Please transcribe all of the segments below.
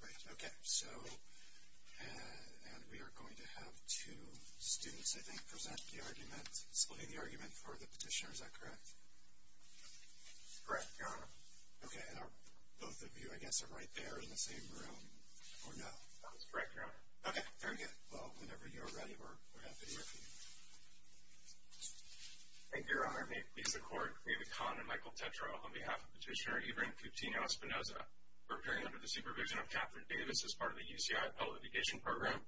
Right, okay, so, and we are going to have two students, I think, present the argument, explain the argument for the petitioner, is that correct? Correct, Your Honor. Okay, and are both of you, I guess, are right there in the same room, or no? No, it's correct, Your Honor. Okay, very good. Well, whenever you're ready, we're happy to hear from you. Thank you, Your Honor. May it please the Court, we have a con on Michael Tetreault on behalf of Petitioner Ibrahin Cutino Espinosa for appearing under the supervision of Catherine Davis as part of the UCI Appellate Litigation Program.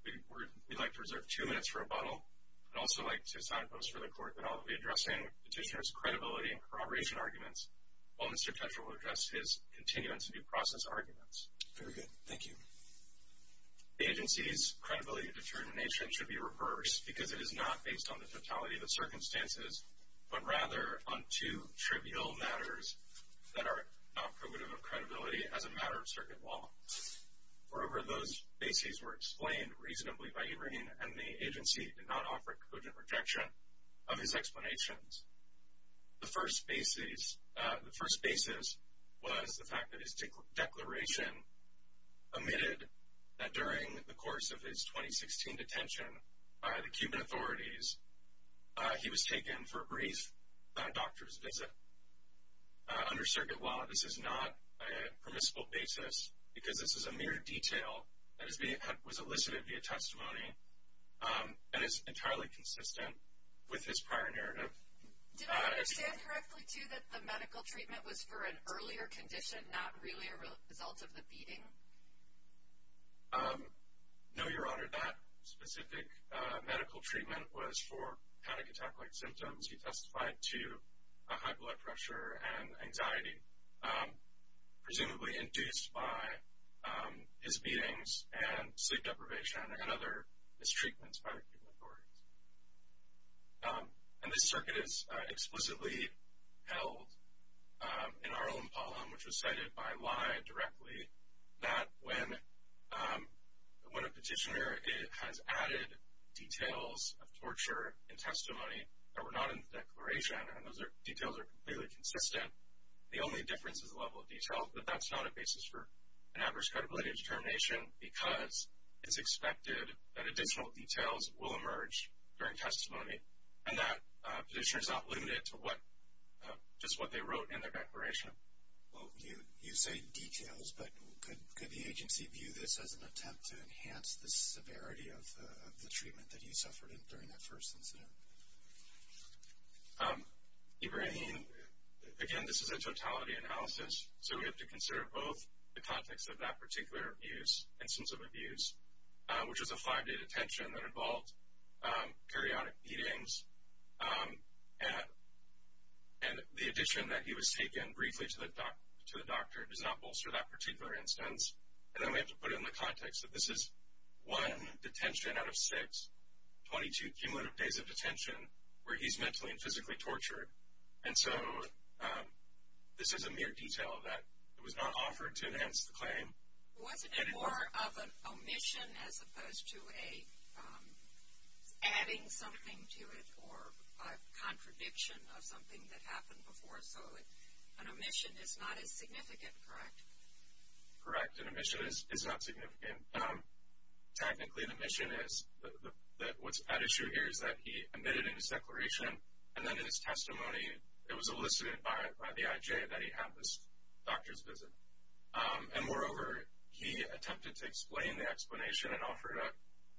We'd like to reserve two minutes for rebuttal. I'd also like to sign a post for the Court that I'll be addressing petitioner's credibility and corroboration arguments while Mr. Tetreault will address his continuance and due process arguments. Very good, thank you. The agency's credibility and determination should be reversed because it is not based on the totality of the circumstances, but rather on two trivial matters that are not probative of credibility as a matter of circuit law. Moreover, those bases were explained reasonably by Ibrahim, and the agency did not offer a cogent rejection of his explanations. The first basis was the fact that his declaration omitted that during the course of his 2016 detention by the Cuban authorities, he was taken for a brief doctor's visit. Under circuit law, this is not a permissible basis because this is a mere detail that was elicited via testimony and is entirely consistent with his prior narrative. Did I understand correctly, too, that the medical treatment was for an earlier condition, not really a result of the beating? No, Your Honor, that specific medical treatment was for panic attack-like symptoms. He testified to high blood pressure and anxiety, presumably induced by his beatings and sleep deprivation and other mistreatments by the Cuban authorities. And this circuit is explicitly held in our own poem, which was cited by Lai directly, that when a petitioner has added details of torture and testimony that were not in the declaration, and those details are completely consistent, the only difference is the level of detail, but that's not a basis for an adverse credibility determination because it's expected that additional details will emerge during testimony, and that petitioner is not limited to just what they wrote in their declaration. Well, you say details, but could the agency view this as an attempt to enhance the severity of the treatment that he suffered during that first incident? Ibrahim, again, this is a totality analysis, so we have to consider both the context of that particular abuse, instance of abuse, which was a five-day detention that involved periodic beatings, and the addition that he was taken briefly to the doctor does not bolster that particular instance. And then we have to put it in the context that this is one detention out of six, 22 cumulative days of detention where he's mentally and physically tortured. And so this is a mere detail of that. It was not offered to enhance the claim. Wasn't it more of an omission as opposed to adding something to it or a contradiction of something that happened before? So an omission is not as significant, correct? Correct, an omission is not significant. Technically, the omission is that what's at issue here is that he omitted in his declaration, and then in his testimony it was elicited by the IJ that he had this doctor's visit. And moreover, he attempted to explain the explanation and offered an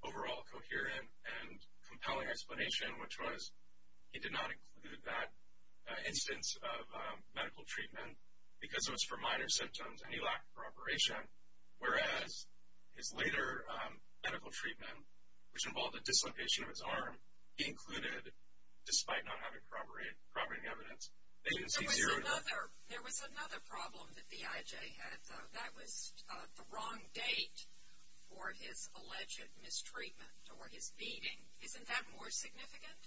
overall coherent and compelling explanation, which was he did not include that instance of medical treatment because it was for minor symptoms and he lacked preparation, whereas his later medical treatment, which involved a dislocation of his arm, he included despite not having corroborating evidence. There was another problem that the IJ had, though. That was the wrong date for his alleged mistreatment or his beating. Isn't that more significant?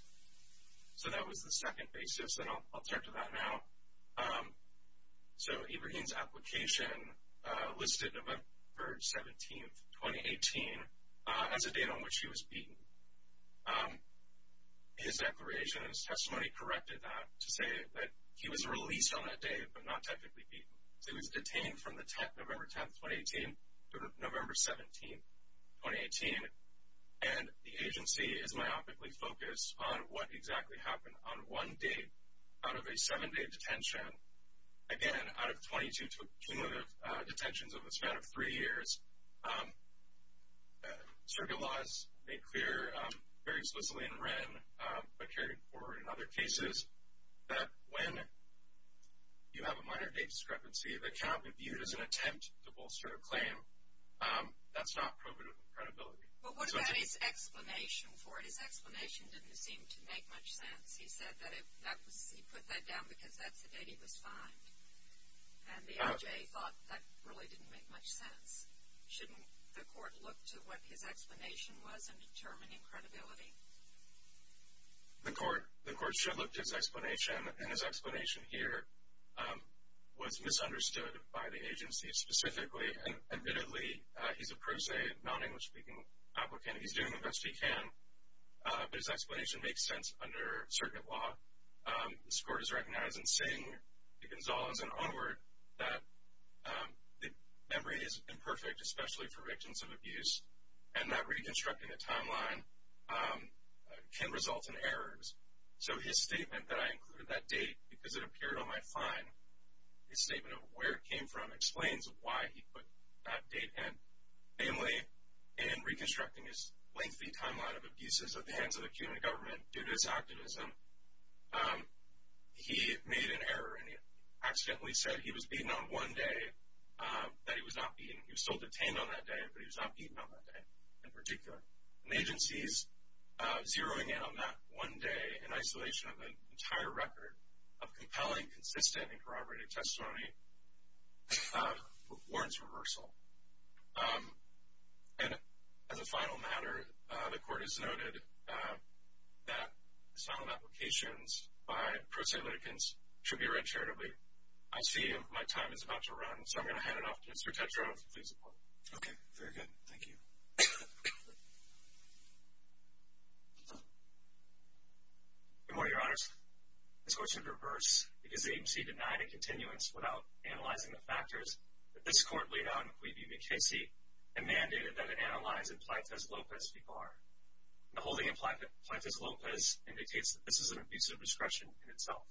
So that was the second basis, and I'll turn to that now. So Ibrahim's application listed November 17, 2018 as a date on which he was beaten. His declaration and his testimony corrected that to say that he was released on that date but not technically beaten. He was detained from November 10, 2018 to November 17, 2018, and the agency is myopically focused on what exactly happened on one date out of a seven-day detention. Again, out of 22 cumulative detentions over the span of three years, circuit laws made clear very explicitly in Wren, but carried forward in other cases, that when you have a minor date discrepancy that cannot be viewed as an attempt to bolster a claim, that's not probative credibility. But what about his explanation for it? His explanation didn't seem to make much sense. He said that he put that down because that's the date he was fined, and the NJA thought that really didn't make much sense. Shouldn't the court look to what his explanation was in determining credibility? The court should look to his explanation, and his explanation here was misunderstood by the agency specifically. Admittedly, he's a pro se, non-English-speaking applicant. He's doing the best he can, but his explanation makes sense under circuit law. The court has recognized in saying to Gonzalez and Onward that the memory is imperfect, especially for victims of abuse, and that reconstructing the timeline can result in errors. So his statement that I included that date because it appeared on my fine, his statement of where it came from explains why he put that date in. Namely, in reconstructing his lengthy timeline of abuses at the hands of the Cuban government due to his activism, he made an error and he accidentally said he was beaten on one day that he was not beaten. He was still detained on that day, but he was not beaten on that day in particular. And agencies zeroing in on that one day in isolation of an entire record of compelling, consistent, and corroborated testimony warrants reversal. And as a final matter, the court has noted that asylum applications by pro se litigants should be read charitably. I see my time is about to run, so I'm going to hand it off to Mr. Tetreault to please report. Okay, very good. Thank you. Good morning, Your Honors. This court should reverse because the agency denied a continuance without analyzing the factors that this court laid out in the Cui v. McKessie and mandated that it analyze in Plantes-Lopez v. Barr. The holding in Plantes-Lopez indicates that this is an abusive discretion in itself.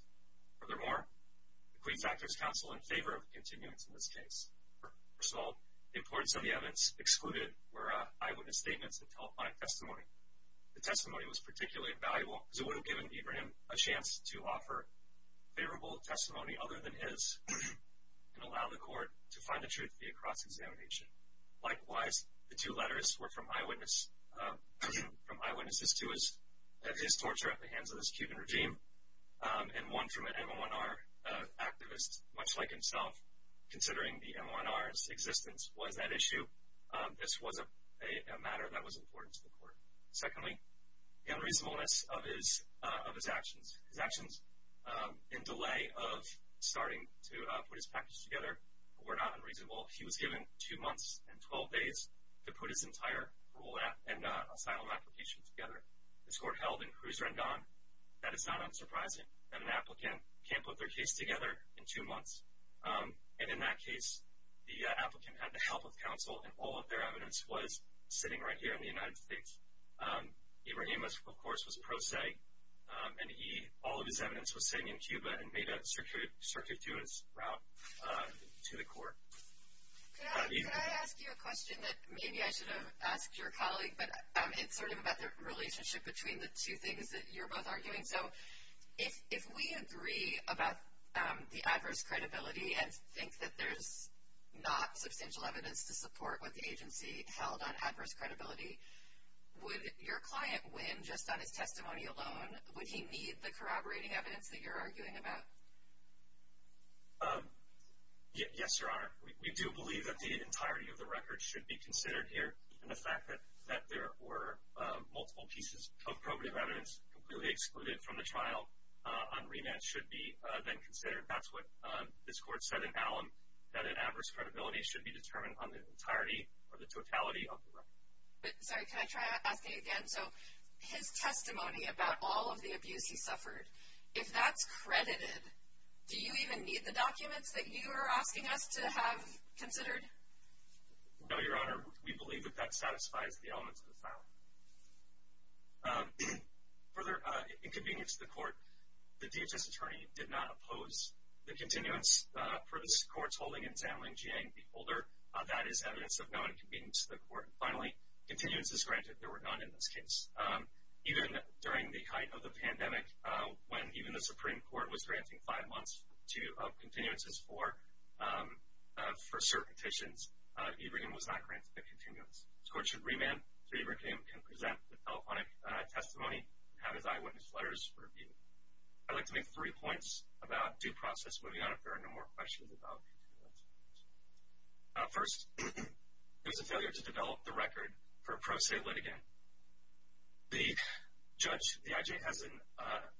Furthermore, the Cui factors counsel in favor of continuance in this case. First of all, the importance of the evidence excluded were eyewitness statements that tell fine testimony. The testimony was particularly valuable because it would have given Abraham a chance to offer favorable testimony other than his and allow the court to find the truth via cross-examination. Likewise, the two letters were from eyewitnesses to his torture at the hands of his Cuban regime and one from an M1R activist, much like himself, considering the M1R's existence was at issue. This was a matter that was important to the court. Secondly, the unreasonableness of his actions. His actions in delay of starting to put his package together were not unreasonable. He was given two months and 12 days to put his entire rule and asylum application together. This court held in Cruiser and Don. That is not unsurprising that an applicant can't put their case together in two months. And in that case, the applicant had the help of counsel, and all of their evidence was sitting right here in the United States. Abraham, of course, was pro se, and all of his evidence was sitting in Cuba and made a circuit through his route to the court. Can I ask you a question that maybe I should have asked your colleague, but it's sort of about the relationship between the two things that you're both arguing. So if we agree about the adverse credibility and think that there's not substantial evidence to support what the agency held on adverse credibility, would your client win just on his testimony alone? Would he need the corroborating evidence that you're arguing about? Yes, Your Honor. We do believe that the entirety of the record should be considered here, and the fact that there were multiple pieces of probative evidence completely excluded from the trial on remand should be then considered. That's what this court said in Hallam, that an adverse credibility should be determined on the entirety or the totality of the record. Sorry, can I try asking again? So his testimony about all of the abuse he suffered, if that's credited, do you even need the documents that you are asking us to have considered? No, Your Honor. We believe that that satisfies the elements of the filing. Further inconvenience to the court, the DHS attorney did not oppose the continuance for this court's holding in Zandling, Jiang v. Holder. That is evidence of no inconvenience to the court. Finally, continuances granted. There were none in this case. Even during the height of the pandemic, when even the Supreme Court was granting five months of continuances for cert petitions, Eberhain was not granted a continuance. This court should remand so Eberhain can present the telephonic testimony and have his eyewitness letters reviewed. I'd like to make three points about due process moving on, if there are no more questions about continuances. First, it was a failure to develop the record for pro se litigant. The judge, the IJ, has an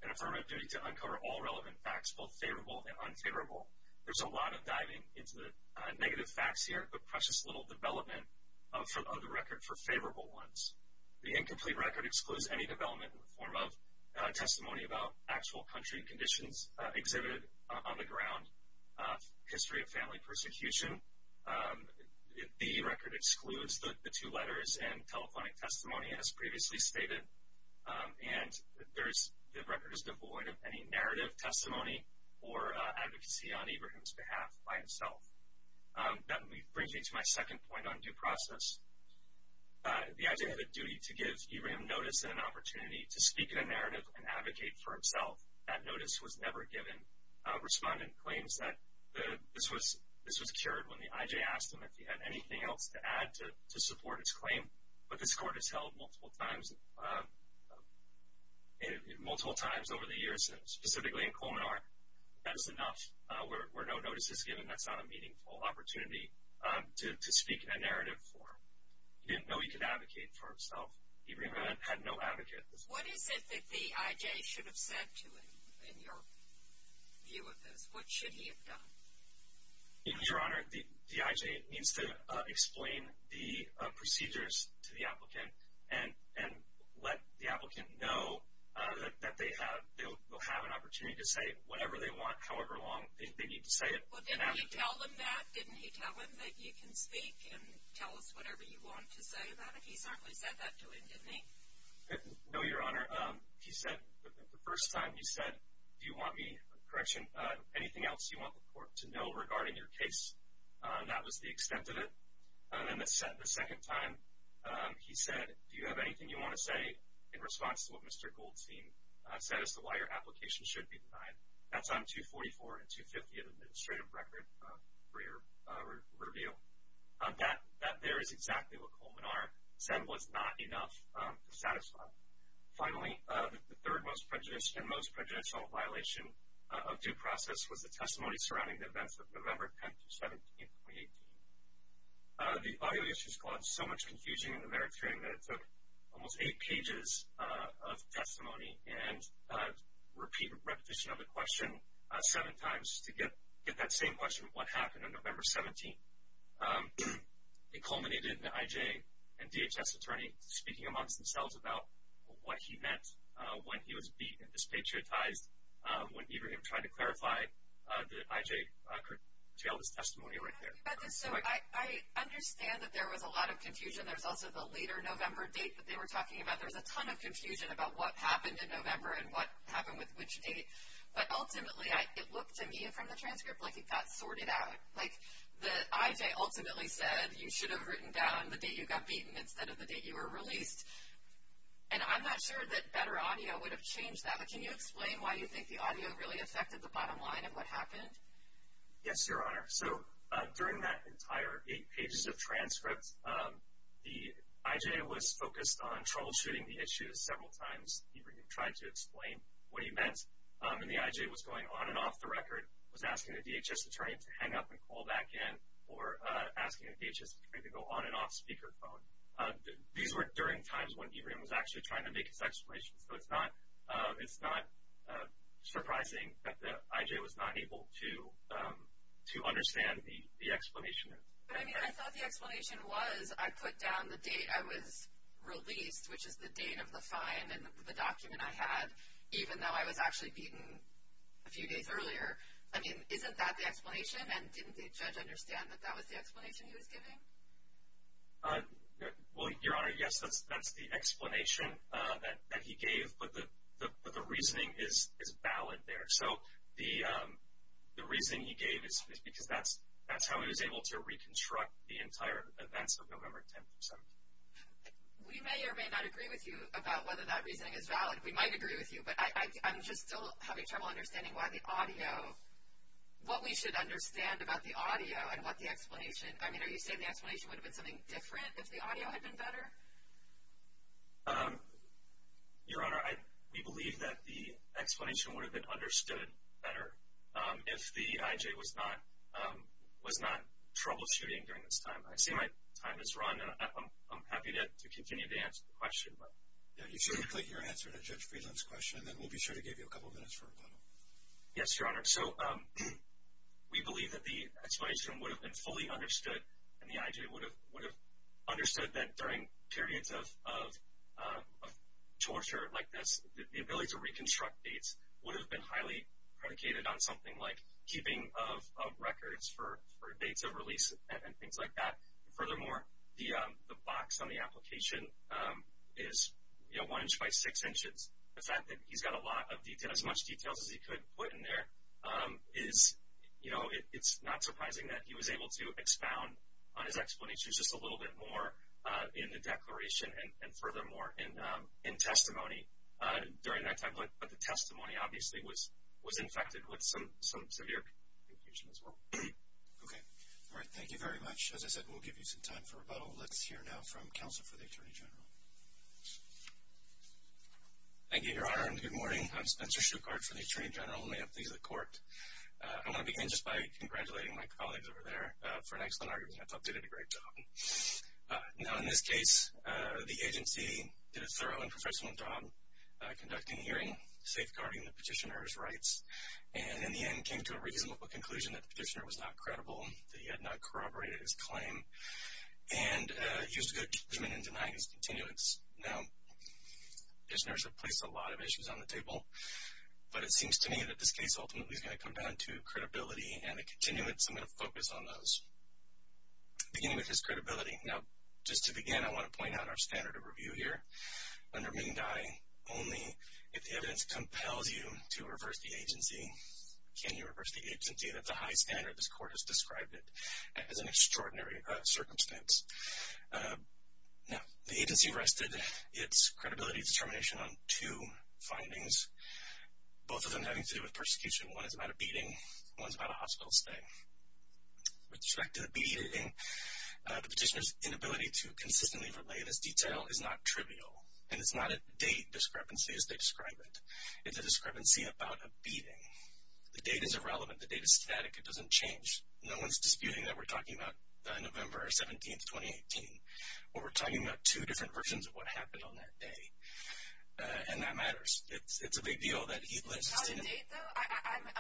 affirmative duty to uncover all relevant facts, both favorable and unfavorable. There's a lot of diving into the negative facts here, but precious little development of the record for favorable ones. The incomplete record excludes any development in the form of testimony about actual country conditions exhibited on the ground, history of family persecution. The record excludes the two letters and telephonic testimony, as previously stated. And the record is devoid of any narrative testimony or advocacy on Eberhain's behalf by himself. That brings me to my second point on due process. The IJ had a duty to give Eberhain notice and an opportunity to speak in a narrative and advocate for himself. That notice was never given. Respondent claims that this was secured when the IJ asked him if he had anything else to add to support his claim, but this court has held multiple times over the years, specifically in Colmenar. That is enough. Where no notice is given, that's not a meaningful opportunity to speak in a narrative form. He didn't know he could advocate for himself. Eberhain had no advocate. What is it that the IJ should have said to him in your view of this? What should he have done? Your Honor, the IJ needs to explain the procedures to the applicant and let the applicant know that they'll have an opportunity to say whatever they want, however long they need to say it. Well, didn't he tell them that? Didn't he tell them that you can speak and tell us whatever you want to say about it? He certainly said that to him, didn't he? No, Your Honor. He said the first time, he said, do you want me, correction, anything else you want the court to know regarding your case? That was the extent of it. Then the second time, he said, do you have anything you want to say in response to what Mr. Goldstein said as to why your application should be denied? That's on 244 and 250 of the administrative record for your review. That there is exactly what Colmenar said was not enough. Finally, the third most prejudicial and most prejudicial violation of due process was the testimony surrounding the events of November 10th through 17th, 2018. The evaluation caused so much confusion in the merit hearing that it took almost eight pages of testimony and repeat repetition of the question seven times to get that same question, what happened on November 17th. It culminated in the IJ and DHS attorney speaking amongst themselves about what he meant when he was beat and dispatriotized when either of them tried to clarify that IJ curtailed his testimony right there. So I understand that there was a lot of confusion. There was also the later November date that they were talking about. There was a ton of confusion about what happened in November and what happened with which date. But ultimately, it looked to me from the transcript like it got sorted out. Like the IJ ultimately said you should have written down the date you got beaten instead of the date you were released. And I'm not sure that better audio would have changed that, but can you explain why you think the audio really affected the bottom line of what happened? Yes, Your Honor. So during that entire eight pages of transcript, the IJ was focused on troubleshooting the issue several times. He tried to explain what he meant, and the IJ was going on and off the record, was asking the DHS attorney to hang up and call back in, or asking the DHS attorney to go on and off speaker phone. These were during times when Ibrahim was actually trying to make his explanation. So it's not surprising that the IJ was not able to understand the explanation. I mean, I thought the explanation was I put down the date I was released, which is the date of the fine and the document I had, even though I was actually beaten a few days earlier. I mean, isn't that the explanation? And didn't the judge understand that that was the explanation he was giving? Well, Your Honor, yes, that's the explanation that he gave, but the reasoning is valid there. So the reasoning he gave is because that's how he was able to reconstruct the entire events of November 10th through 17th. We may or may not agree with you about whether that reasoning is valid. We might agree with you, but I'm just still having trouble understanding why the audio, what we should understand about the audio and what the explanation. I mean, are you saying the explanation would have been something different if the audio had been better? Your Honor, we believe that the explanation would have been understood better if the IJ was not troubleshooting during this time. I see my time has run, and I'm happy to continue to answer the question. You should complete your answer to Judge Friedland's question, and then we'll be sure to give you a couple minutes for a follow-up. Yes, Your Honor. So we believe that the explanation would have been fully understood, and the IJ would have understood that during periods of torture like this, the ability to reconstruct dates would have been highly predicated on something like keeping of records for dates of release and things like that. Furthermore, the box on the application is, you know, one inch by six inches. The fact that he's got as much details as he could put in there is, you know, it's not surprising that he was able to expound on his explanations just a little bit more in the declaration and furthermore in testimony during that time. But the testimony, obviously, was infected with some severe confusion as well. Okay. All right. Thank you very much. As I said, we'll give you some time for rebuttal. Let's hear now from counsel for the Attorney General. Thank you, Your Honor, and good morning. I'm Spencer Shukart for the Attorney General. Let me update the Court. I want to begin just by congratulating my colleagues over there for an excellent argument. I thought they did a great job. Now, in this case, the agency did a thorough and professional job conducting hearing, safeguarding the petitioner's rights, and in the end came to a reasonable conclusion that the petitioner was not credible, that he had not corroborated his claim, and used good judgment in denying his continuance. Now, petitioners have placed a lot of issues on the table, but it seems to me that this case ultimately is going to come down to credibility and the continuance, and I'm going to focus on those. Beginning with his credibility. Now, just to begin, I want to point out our standard of review here. Under Ming Dai, only if the evidence compels you to reverse the agency can you reverse the agency. That's a high standard. This Court has described it as an extraordinary circumstance. Now, the agency rested its credibility determination on two findings, both of them having to do with persecution. One is about a beating. One is about a hospital stay. With respect to the beating, the petitioner's inability to consistently relay this detail is not trivial, and it's not a date discrepancy as they describe it. It's a discrepancy about a beating. The date is irrelevant. The date is static. It doesn't change. No one is disputing that we're talking about November 17, 2018, but we're talking about two different versions of what happened on that day, and that matters. It's a big deal that he lives to see another day. The date, though,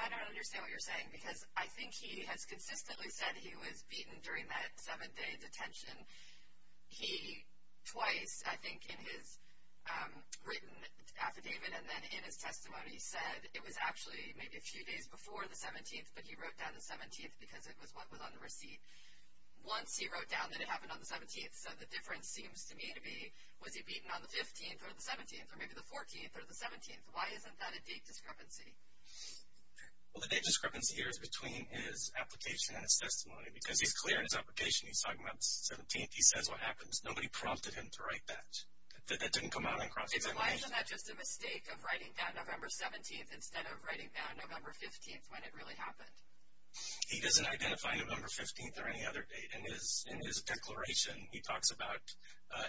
I don't understand what you're saying, because I think he has consistently said he was beaten during that seven-day detention. He twice, I think, in his written affidavit and then in his testimony, said it was actually maybe a few days before the 17th, but he wrote down the 17th because it was what was on the receipt. Once he wrote down that it happened on the 17th, so the difference seems to me to be, was he beaten on the 15th or the 17th or maybe the 14th or the 17th? Why isn't that a date discrepancy? Well, the date discrepancy here is between his application and his testimony, because he's clear in his application he's talking about the 17th. He says what happens. Nobody prompted him to write that. That didn't come out in cross-examination. Then why isn't that just a mistake of writing down November 17th instead of writing down November 15th when it really happened? He doesn't identify November 15th or any other date. In his declaration, he talks about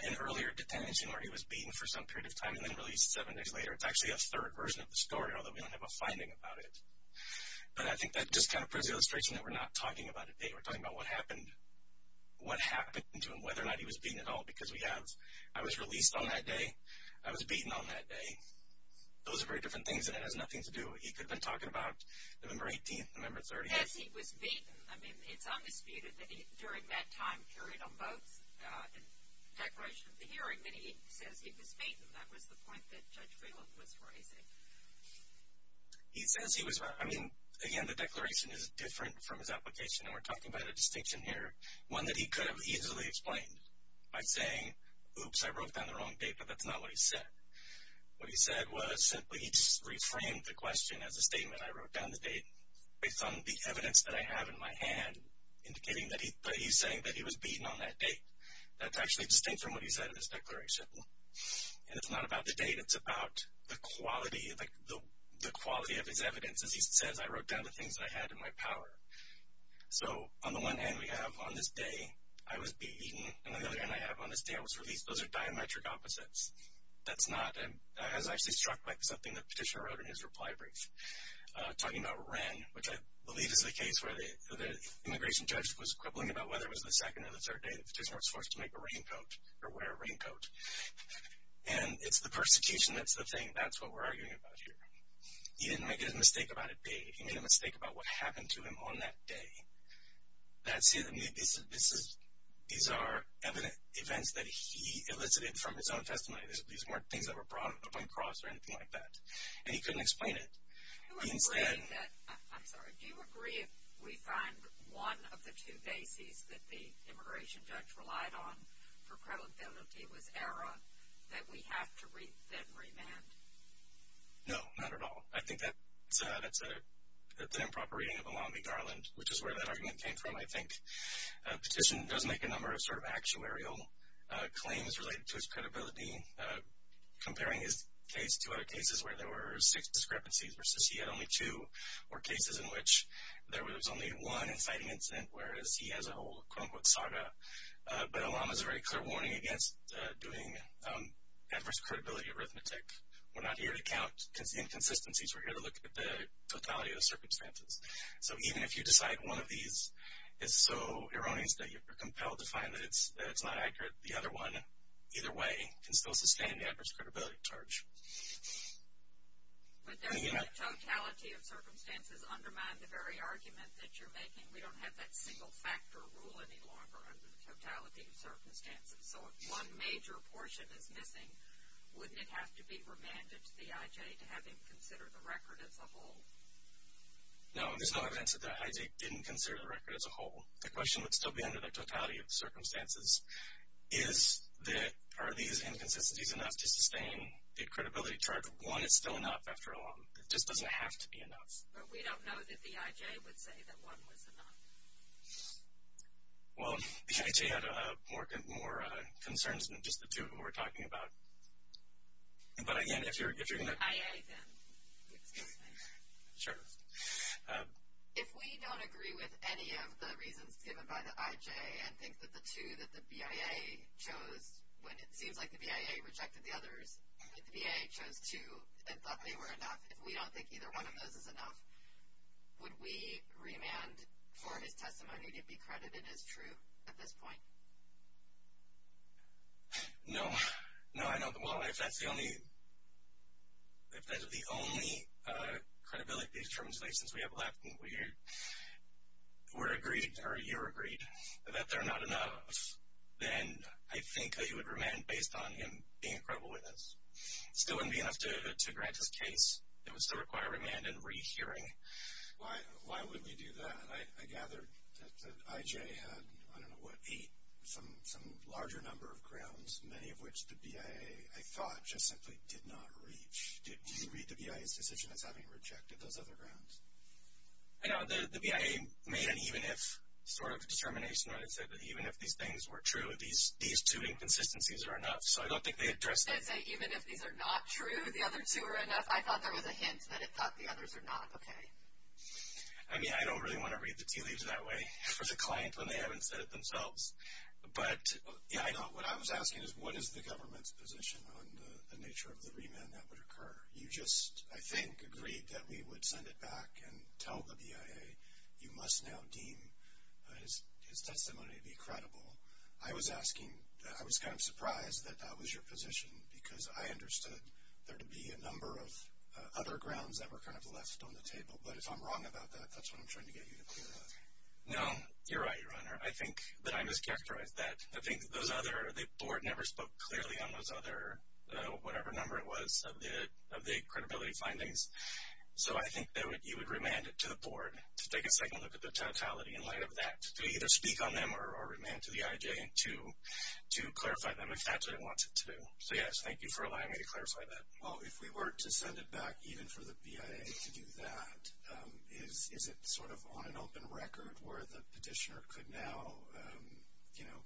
an earlier detention where he was beaten for some period of time and then released seven days later. It's actually a third version of the story, although we don't have a finding about it. But I think that just kind of puts the illustration that we're not talking about a date. We're talking about what happened to him, whether or not he was beaten at all, because I was released on that day, I was beaten on that day. Those are very different things, and it has nothing to do. He could have been talking about November 18th, November 30th. Yes, he was beaten. I mean, it's undisputed that during that time period on both declarations of the hearing that he says he was beaten. That was the point that Judge Griggled was raising. He says he was—I mean, again, the declaration is different from his application, and we're talking about a distinction here, one that he could have easily explained by saying, oops, I wrote down the wrong date, but that's not what he said. What he said was simply he just reframed the question as a statement, I wrote down the date based on the evidence that I have in my hand, indicating that he's saying that he was beaten on that date. That's actually distinct from what he said in his declaration. And it's not about the date. It's about the quality, like the quality of his evidence. As he says, I wrote down the things that I had in my power. So on the one hand, we have on this day I was beaten, and on the other hand I have on this day I was released. Those are diametric opposites. That's not—I was actually struck by something the petitioner wrote in his reply brief, talking about Wren, which I believe is the case where the immigration judge was quibbling about whether it was the second or the third day that the petitioner was forced to make a raincoat or wear a raincoat. And it's the persecution that's the thing. That's what we're arguing about here. He didn't make a mistake about a date. He made a mistake about what happened to him on that day. These are evident events that he elicited from his own testimony. These weren't things that were brought up on the cross or anything like that. And he couldn't explain it. Do you agree that—I'm sorry. Do you agree if we find one of the two bases that the immigration judge relied on for credibility was error, that we have to then remand? No, not at all. I think that's an improper reading of the law in New Orleans, which is where that argument came from. I think the petition does make a number of sort of actuarial claims related to his credibility, comparing his case to other cases where there were six discrepancies versus he had only two, or cases in which there was only one inciting incident, whereas he has a whole quote-unquote saga. But Alam is a very clear warning against doing adverse credibility arithmetic. We're not here to count inconsistencies. We're here to look at the totality of the circumstances. So even if you decide one of these is so erroneous that you're compelled to find that it's not accurate, the other one, either way, can still sustain the adverse credibility charge. But doesn't the totality of circumstances undermine the very argument that you're making? We don't have that single-factor rule any longer under the totality of circumstances. So if one major portion is missing, wouldn't it have to be remanded to the IJ to have him consider the record as a whole? No, there's no evidence that the IJ didn't consider the record as a whole. The question would still be under the totality of circumstances. Is that, are these inconsistencies enough to sustain the credibility charge if one is still enough after all? It just doesn't have to be enough. But we don't know that the IJ would say that one was enough. Well, the IJ had more concerns than just the two of them we're talking about. But again, if you're going to IA, then, excuse me. Sure. If we don't agree with any of the reasons given by the IJ and think that the two that the BIA chose, when it seems like the BIA rejected the others, that the BIA chose two and thought they were enough, if we don't think either one of those is enough, would we remand for his testimony to be credited as true at this point? No. No, I don't. Well, if that's the only credibility determination we have left and we're agreed or you're agreed that they're not enough, then I think that you would remand based on him being a credible witness. It still wouldn't be enough to grant his case. It would still require remand and rehearing. Why would we do that? I gathered that the IJ had, I don't know, what, eight, some larger number of grounds, many of which the BIA, I thought, just simply did not reach. Did you read the BIA's decision as having rejected those other grounds? I know the BIA made an even if sort of determination when it said that even if these things were true, these two inconsistencies are enough. So I don't think they addressed that. Did they say even if these are not true, the other two are enough? I thought there was a hint that it thought the others were not okay. I mean, I don't really want to read the tea leaves that way for the client when they haven't said it themselves. But, yeah, what I was asking is what is the government's position on the nature of the remand that would occur? You just, I think, agreed that we would send it back and tell the BIA you must now deem his testimony to be credible. I was asking, I was kind of surprised that that was your position because I understood there to be a number of other grounds that were kind of left on the table. But if I'm wrong about that, that's what I'm trying to get you to clear up. No, you're right, Your Honor. I think that I mischaracterized that. I think that those other, the board never spoke clearly on those other, whatever number it was, of the credibility findings. So I think that you would remand it to the board to take a second look at the totality in light of that to either speak on them or remand to the IJ to clarify them if that's what it wants it to do. So, yes, thank you for allowing me to clarify that. Well, if we were to send it back even for the BIA to do that, is it sort of on an open record where the petitioner could now, you know,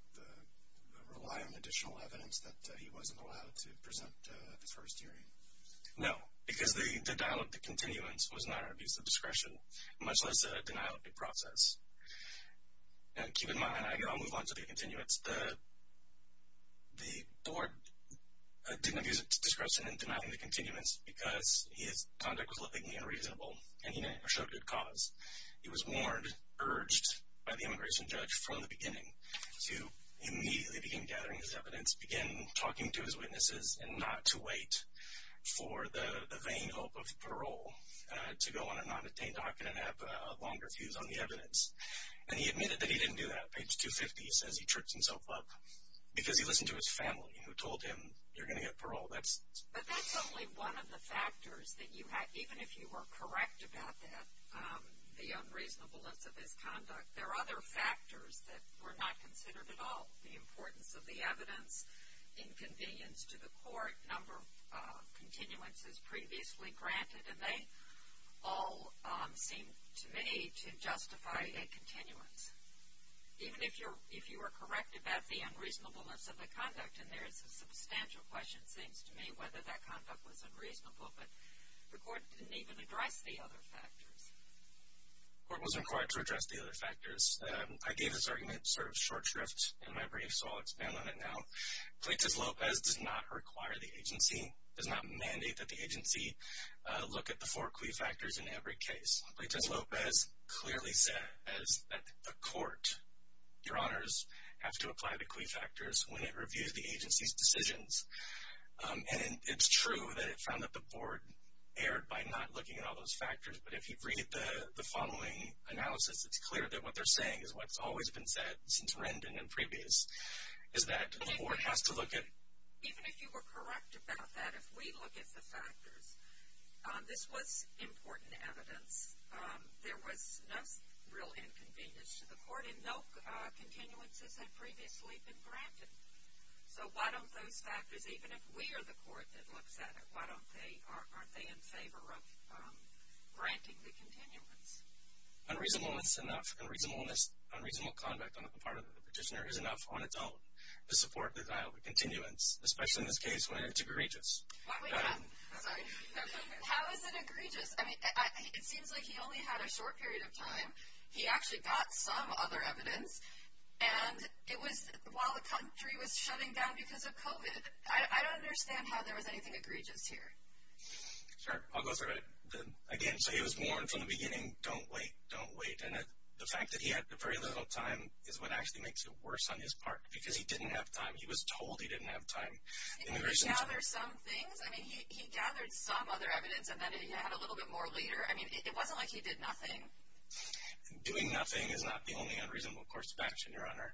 rely on additional evidence that he wasn't allowed to present at the first hearing? No, because the denial of the continuance was not an abuse of discretion, much less a denial of the process. And keep in mind, I'll move on to the continuance, but the board didn't abuse discretion in denying the continuance because his conduct was legally unreasonable and he didn't show good cause. He was warned, urged by the immigration judge from the beginning to immediately begin gathering his evidence, begin talking to his witnesses, and not to wait for the vain hope of parole to go on a non-attained document and have a longer fuse on the evidence. And he admitted that he didn't do that. Page 250 says he tripped himself up because he listened to his family who told him you're going to get parole. But that's only one of the factors that you had. Even if you were correct about that, the unreasonableness of his conduct, there are other factors that were not considered at all. The importance of the evidence, inconvenience to the court, number of continuances previously granted, and they all seem to me to justify a continuance. Even if you were correct about the unreasonableness of the conduct, and there is a substantial question, it seems to me, whether that conduct was unreasonable. But the court didn't even address the other factors. The court wasn't required to address the other factors. I gave this argument sort of short shrift in my brief, so I'll expand on it now. Plaintiff Lopez does not require the agency, does not mandate that the agency look at the four quid factors in every case. Plaintiff Lopez clearly says that the court, your honors, has to apply the quid factors when it reviews the agency's decisions. And it's true that it found that the board erred by not looking at all those factors. But if you read the following analysis, it's clear that what they're saying is what's always been said since Rendon and previous is that the court has to look at it. Even if you were correct about that, if we look at the factors, this was important evidence. There was no real inconvenience to the court, and no continuances had previously been granted. So why don't those factors, even if we are the court that looks at it, why aren't they in favor of granting the continuance? Unreasonable conduct on the part of the petitioner is enough on its own to support the denial of continuance, especially in this case when it's egregious. How is it egregious? I mean, it seems like he only had a short period of time. He actually got some other evidence. And while the country was shutting down because of COVID, I don't understand how there was anything egregious here. Sure. I'll go through it again. So he was warned from the beginning, don't wait, don't wait. And the fact that he had very little time is what actually makes it worse on his part because he didn't have time. He was told he didn't have time. And he gathered some things. I mean, he gathered some other evidence, and then he had a little bit more later. I mean, it wasn't like he did nothing. Doing nothing is not the only unreasonable course of action, Your Honor.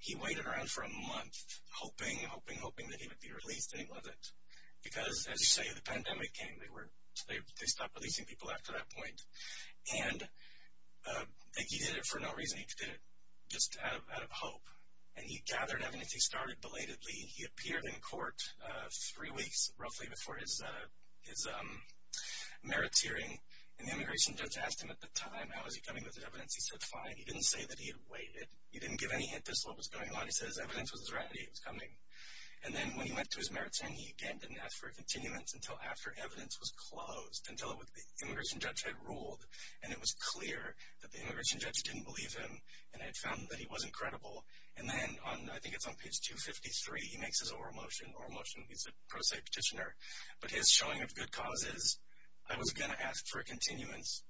He waited around for a month, hoping, hoping, hoping that he would be released, and he wasn't. Because, as you say, the pandemic came. They stopped releasing people after that point. And he did it for no reason. He did it just out of hope. And he gathered evidence. He started belatedly. He appeared in court three weeks, roughly, before his merits hearing. And the immigration judge asked him at the time, how was he coming with his evidence. He said, fine. He didn't say that he had waited. He didn't give any hint as to what was going on. He said his evidence was ready. It was coming. And then when he went to his merits hearing, he, again, didn't ask for a continuance until after evidence was closed, until the immigration judge had ruled, and it was clear that the immigration judge didn't believe him, and had found that he wasn't credible. And then, I think it's on page 253, he makes his oral motion. Oral motion, he's a pro se petitioner. But his showing of good cause is, I was going to ask for a continuance,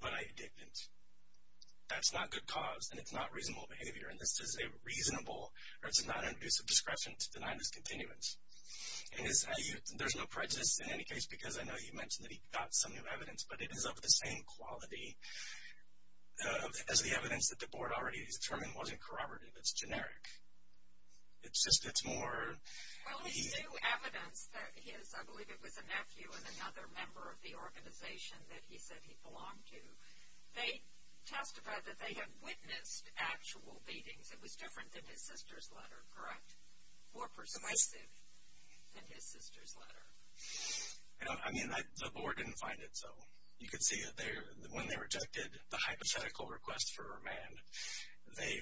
but I didn't. That's not good cause, and it's not reasonable behavior. And this is a reasonable, or it's a non-intrusive discretion to deny this continuance. And there's no prejudice in any case, because I know you mentioned that he got some new evidence, but it is of the same quality as the evidence that the board already determined wasn't corroborative. It's generic. It's just, it's more. Well, his new evidence that his, I believe it was a nephew and another member of the organization that he said he belonged to, they testified that they had witnessed actual beatings. It was different than his sister's letter, correct? More persuasive than his sister's letter. I mean, the board didn't find it, so. You could see that when they rejected the hypothetical request for remand, they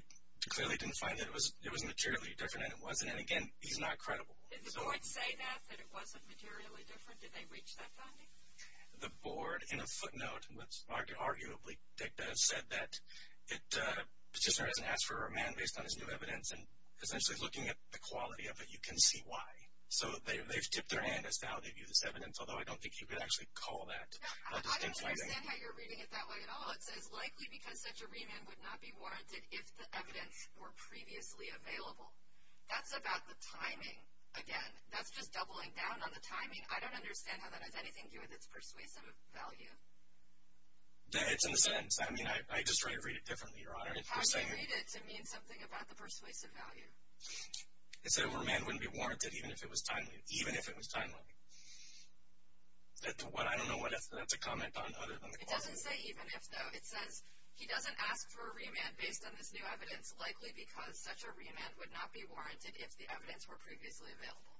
clearly didn't find that it was materially different, and it wasn't. And again, he's not credible. Did the board say that, that it wasn't materially different? Did they reach that finding? The board, in a footnote, arguably said that Petitioner hasn't asked for a remand based on his new evidence, and essentially looking at the quality of it, you can see why. So they've tipped their hand as to how they view this evidence, although I don't think you could actually call that a distinct finding. I don't understand how you're reading it that way at all. It says, likely because such a remand would not be warranted if the evidence were previously available. That's about the timing, again. That's just doubling down on the timing. I mean, I don't understand how that has anything to do with its persuasive value. It's in a sense. I mean, I just try to read it differently, Your Honor. How do you read it to mean something about the persuasive value? It said a remand wouldn't be warranted even if it was timely. Even if it was timely. I don't know what that's a comment on other than the quality. It doesn't say even if, though. It says he doesn't ask for a remand based on this new evidence, likely because such a remand would not be warranted if the evidence were previously available.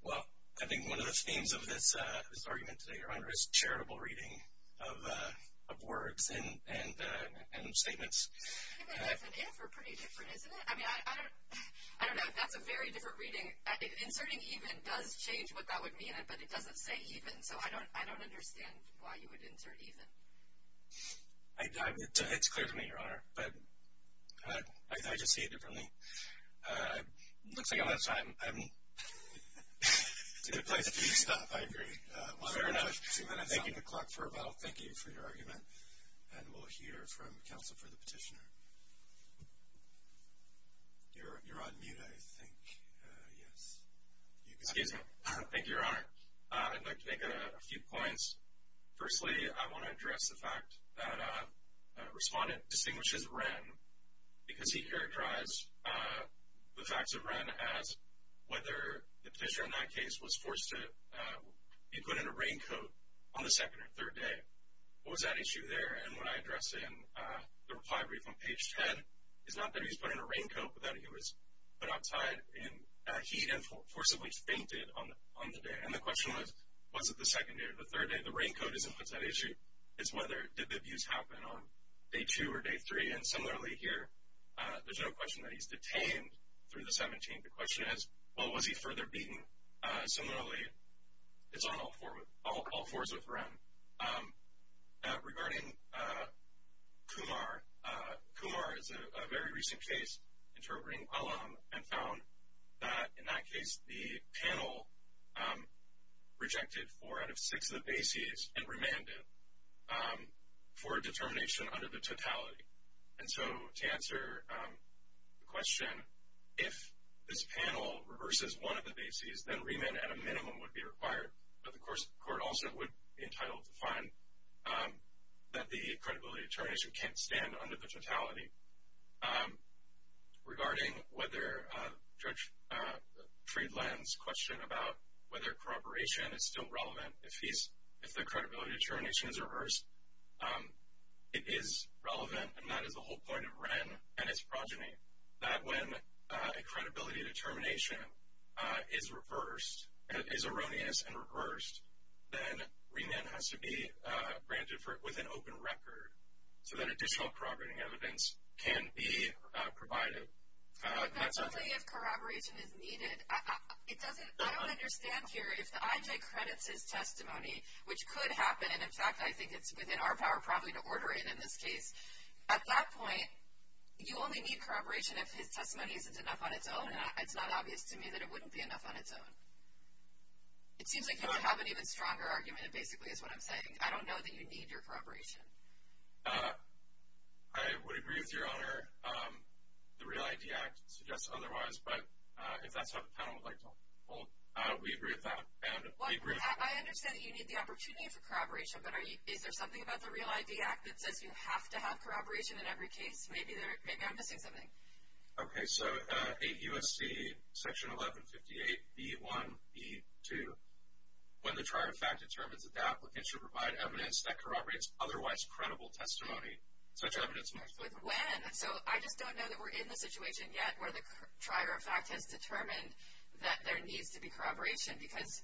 Well, I think one of the themes of this argument today, Your Honor, is charitable reading of words and statements. Even if and if are pretty different, isn't it? I mean, I don't know if that's a very different reading. Inserting even does change what that would mean, but it doesn't say even, so I don't understand why you would insert even. It's clear to me, Your Honor, but I just see it differently. It looks like I'm out of time. It's a good place for you to stop, I agree. Thank you to Clark for a vote. Thank you for your argument. And we'll hear from counsel for the petitioner. You're on mute, I think. Excuse me. Thank you, Your Honor. I'd like to make a few points. Firstly, I want to address the fact that a respondent distinguishes Wren because he characterized the facts of Wren as whether the petitioner in that case was forced to be put in a raincoat on the second or third day. What was that issue there? And when I address it in the reply brief on page 10, it's not that he was put in a raincoat, but that he was put outside in heat and forcibly fainted on the day. And the question was, was it the second day or the third day? The raincoat isn't what's at issue. It's whether did the abuse happen on day two or day three. And similarly here, there's no question that he's detained through the 17th. The question is, well, was he further beaten? Similarly, it's on all fours with Wren. Regarding Kumar, Kumar is a very recent case interpreting Alam and found that in that case the panel rejected four out of six of the bases and remanded for a determination under the totality. And so to answer the question, if this panel reverses one of the bases, then remand at a minimum would be required, but the court also would be entitled to fine that the credibility determination can't stand under the totality. Regarding whether Judge Friedland's question about whether corroboration is still relevant, if the credibility determination is reversed, it is relevant, and that is the whole point of Wren and his progeny, that when a credibility determination is reversed, is erroneous and reversed, then remand has to be granted with an open record so that additional corroborating evidence can be provided. But only if corroboration is needed. I don't understand here. If the IJ credits his testimony, which could happen, and in fact I think it's within our power probably to order it in this case, at that point you only need corroboration if his testimony isn't enough on its own, and it's not obvious to me that it wouldn't be enough on its own. It seems like you would have an even stronger argument, it basically is what I'm saying. I don't know that you need your corroboration. I would agree with Your Honor. The Real ID Act suggests otherwise, but if that's what the panel would like to hold, we agree with that. I understand that you need the opportunity for corroboration, but is there something about the Real ID Act that says you have to have corroboration in every case? Maybe I'm missing something. Okay, so 8 U.S.C. section 1158, B1, B2, when the trier of fact determines that the applicant should provide evidence that corroborates otherwise credible testimony, such evidence must be- With when? So I just don't know that we're in the situation yet where the trier of fact has determined that there needs to be corroboration, because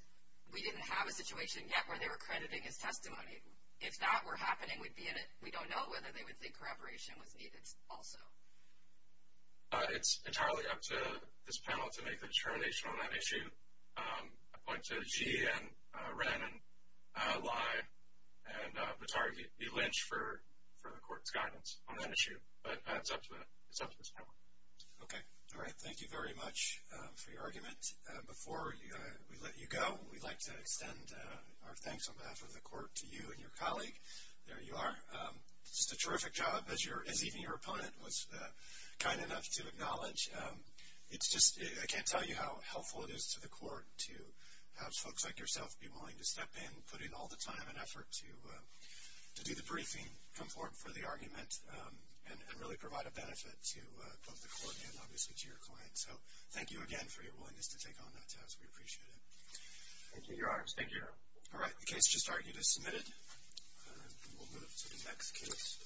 we didn't have a situation yet where they were crediting his testimony. If that were happening, we don't know whether they would think corroboration was needed also. It's entirely up to this panel to make the determination on that issue. I point to Xi and Ren and Lai and Vitargey Lynch for the court's guidance on that issue, but it's up to this panel. Okay, all right. Thank you very much for your argument. Before we let you go, we'd like to extend our thanks on behalf of the court to you and your colleague. There you are. Just a terrific job, as even your opponent was kind enough to acknowledge. It's just I can't tell you how helpful it is to the court to have folks like yourself be willing to step in, put in all the time and effort to do the briefing, come forward for the argument, and really provide a benefit to both the court and, obviously, to your clients. So thank you again for your willingness to take on that task. We appreciate it. Thank you, Your Honors. Thank you, Your Honor. All right, the case just argued is submitted. We'll move to the next case.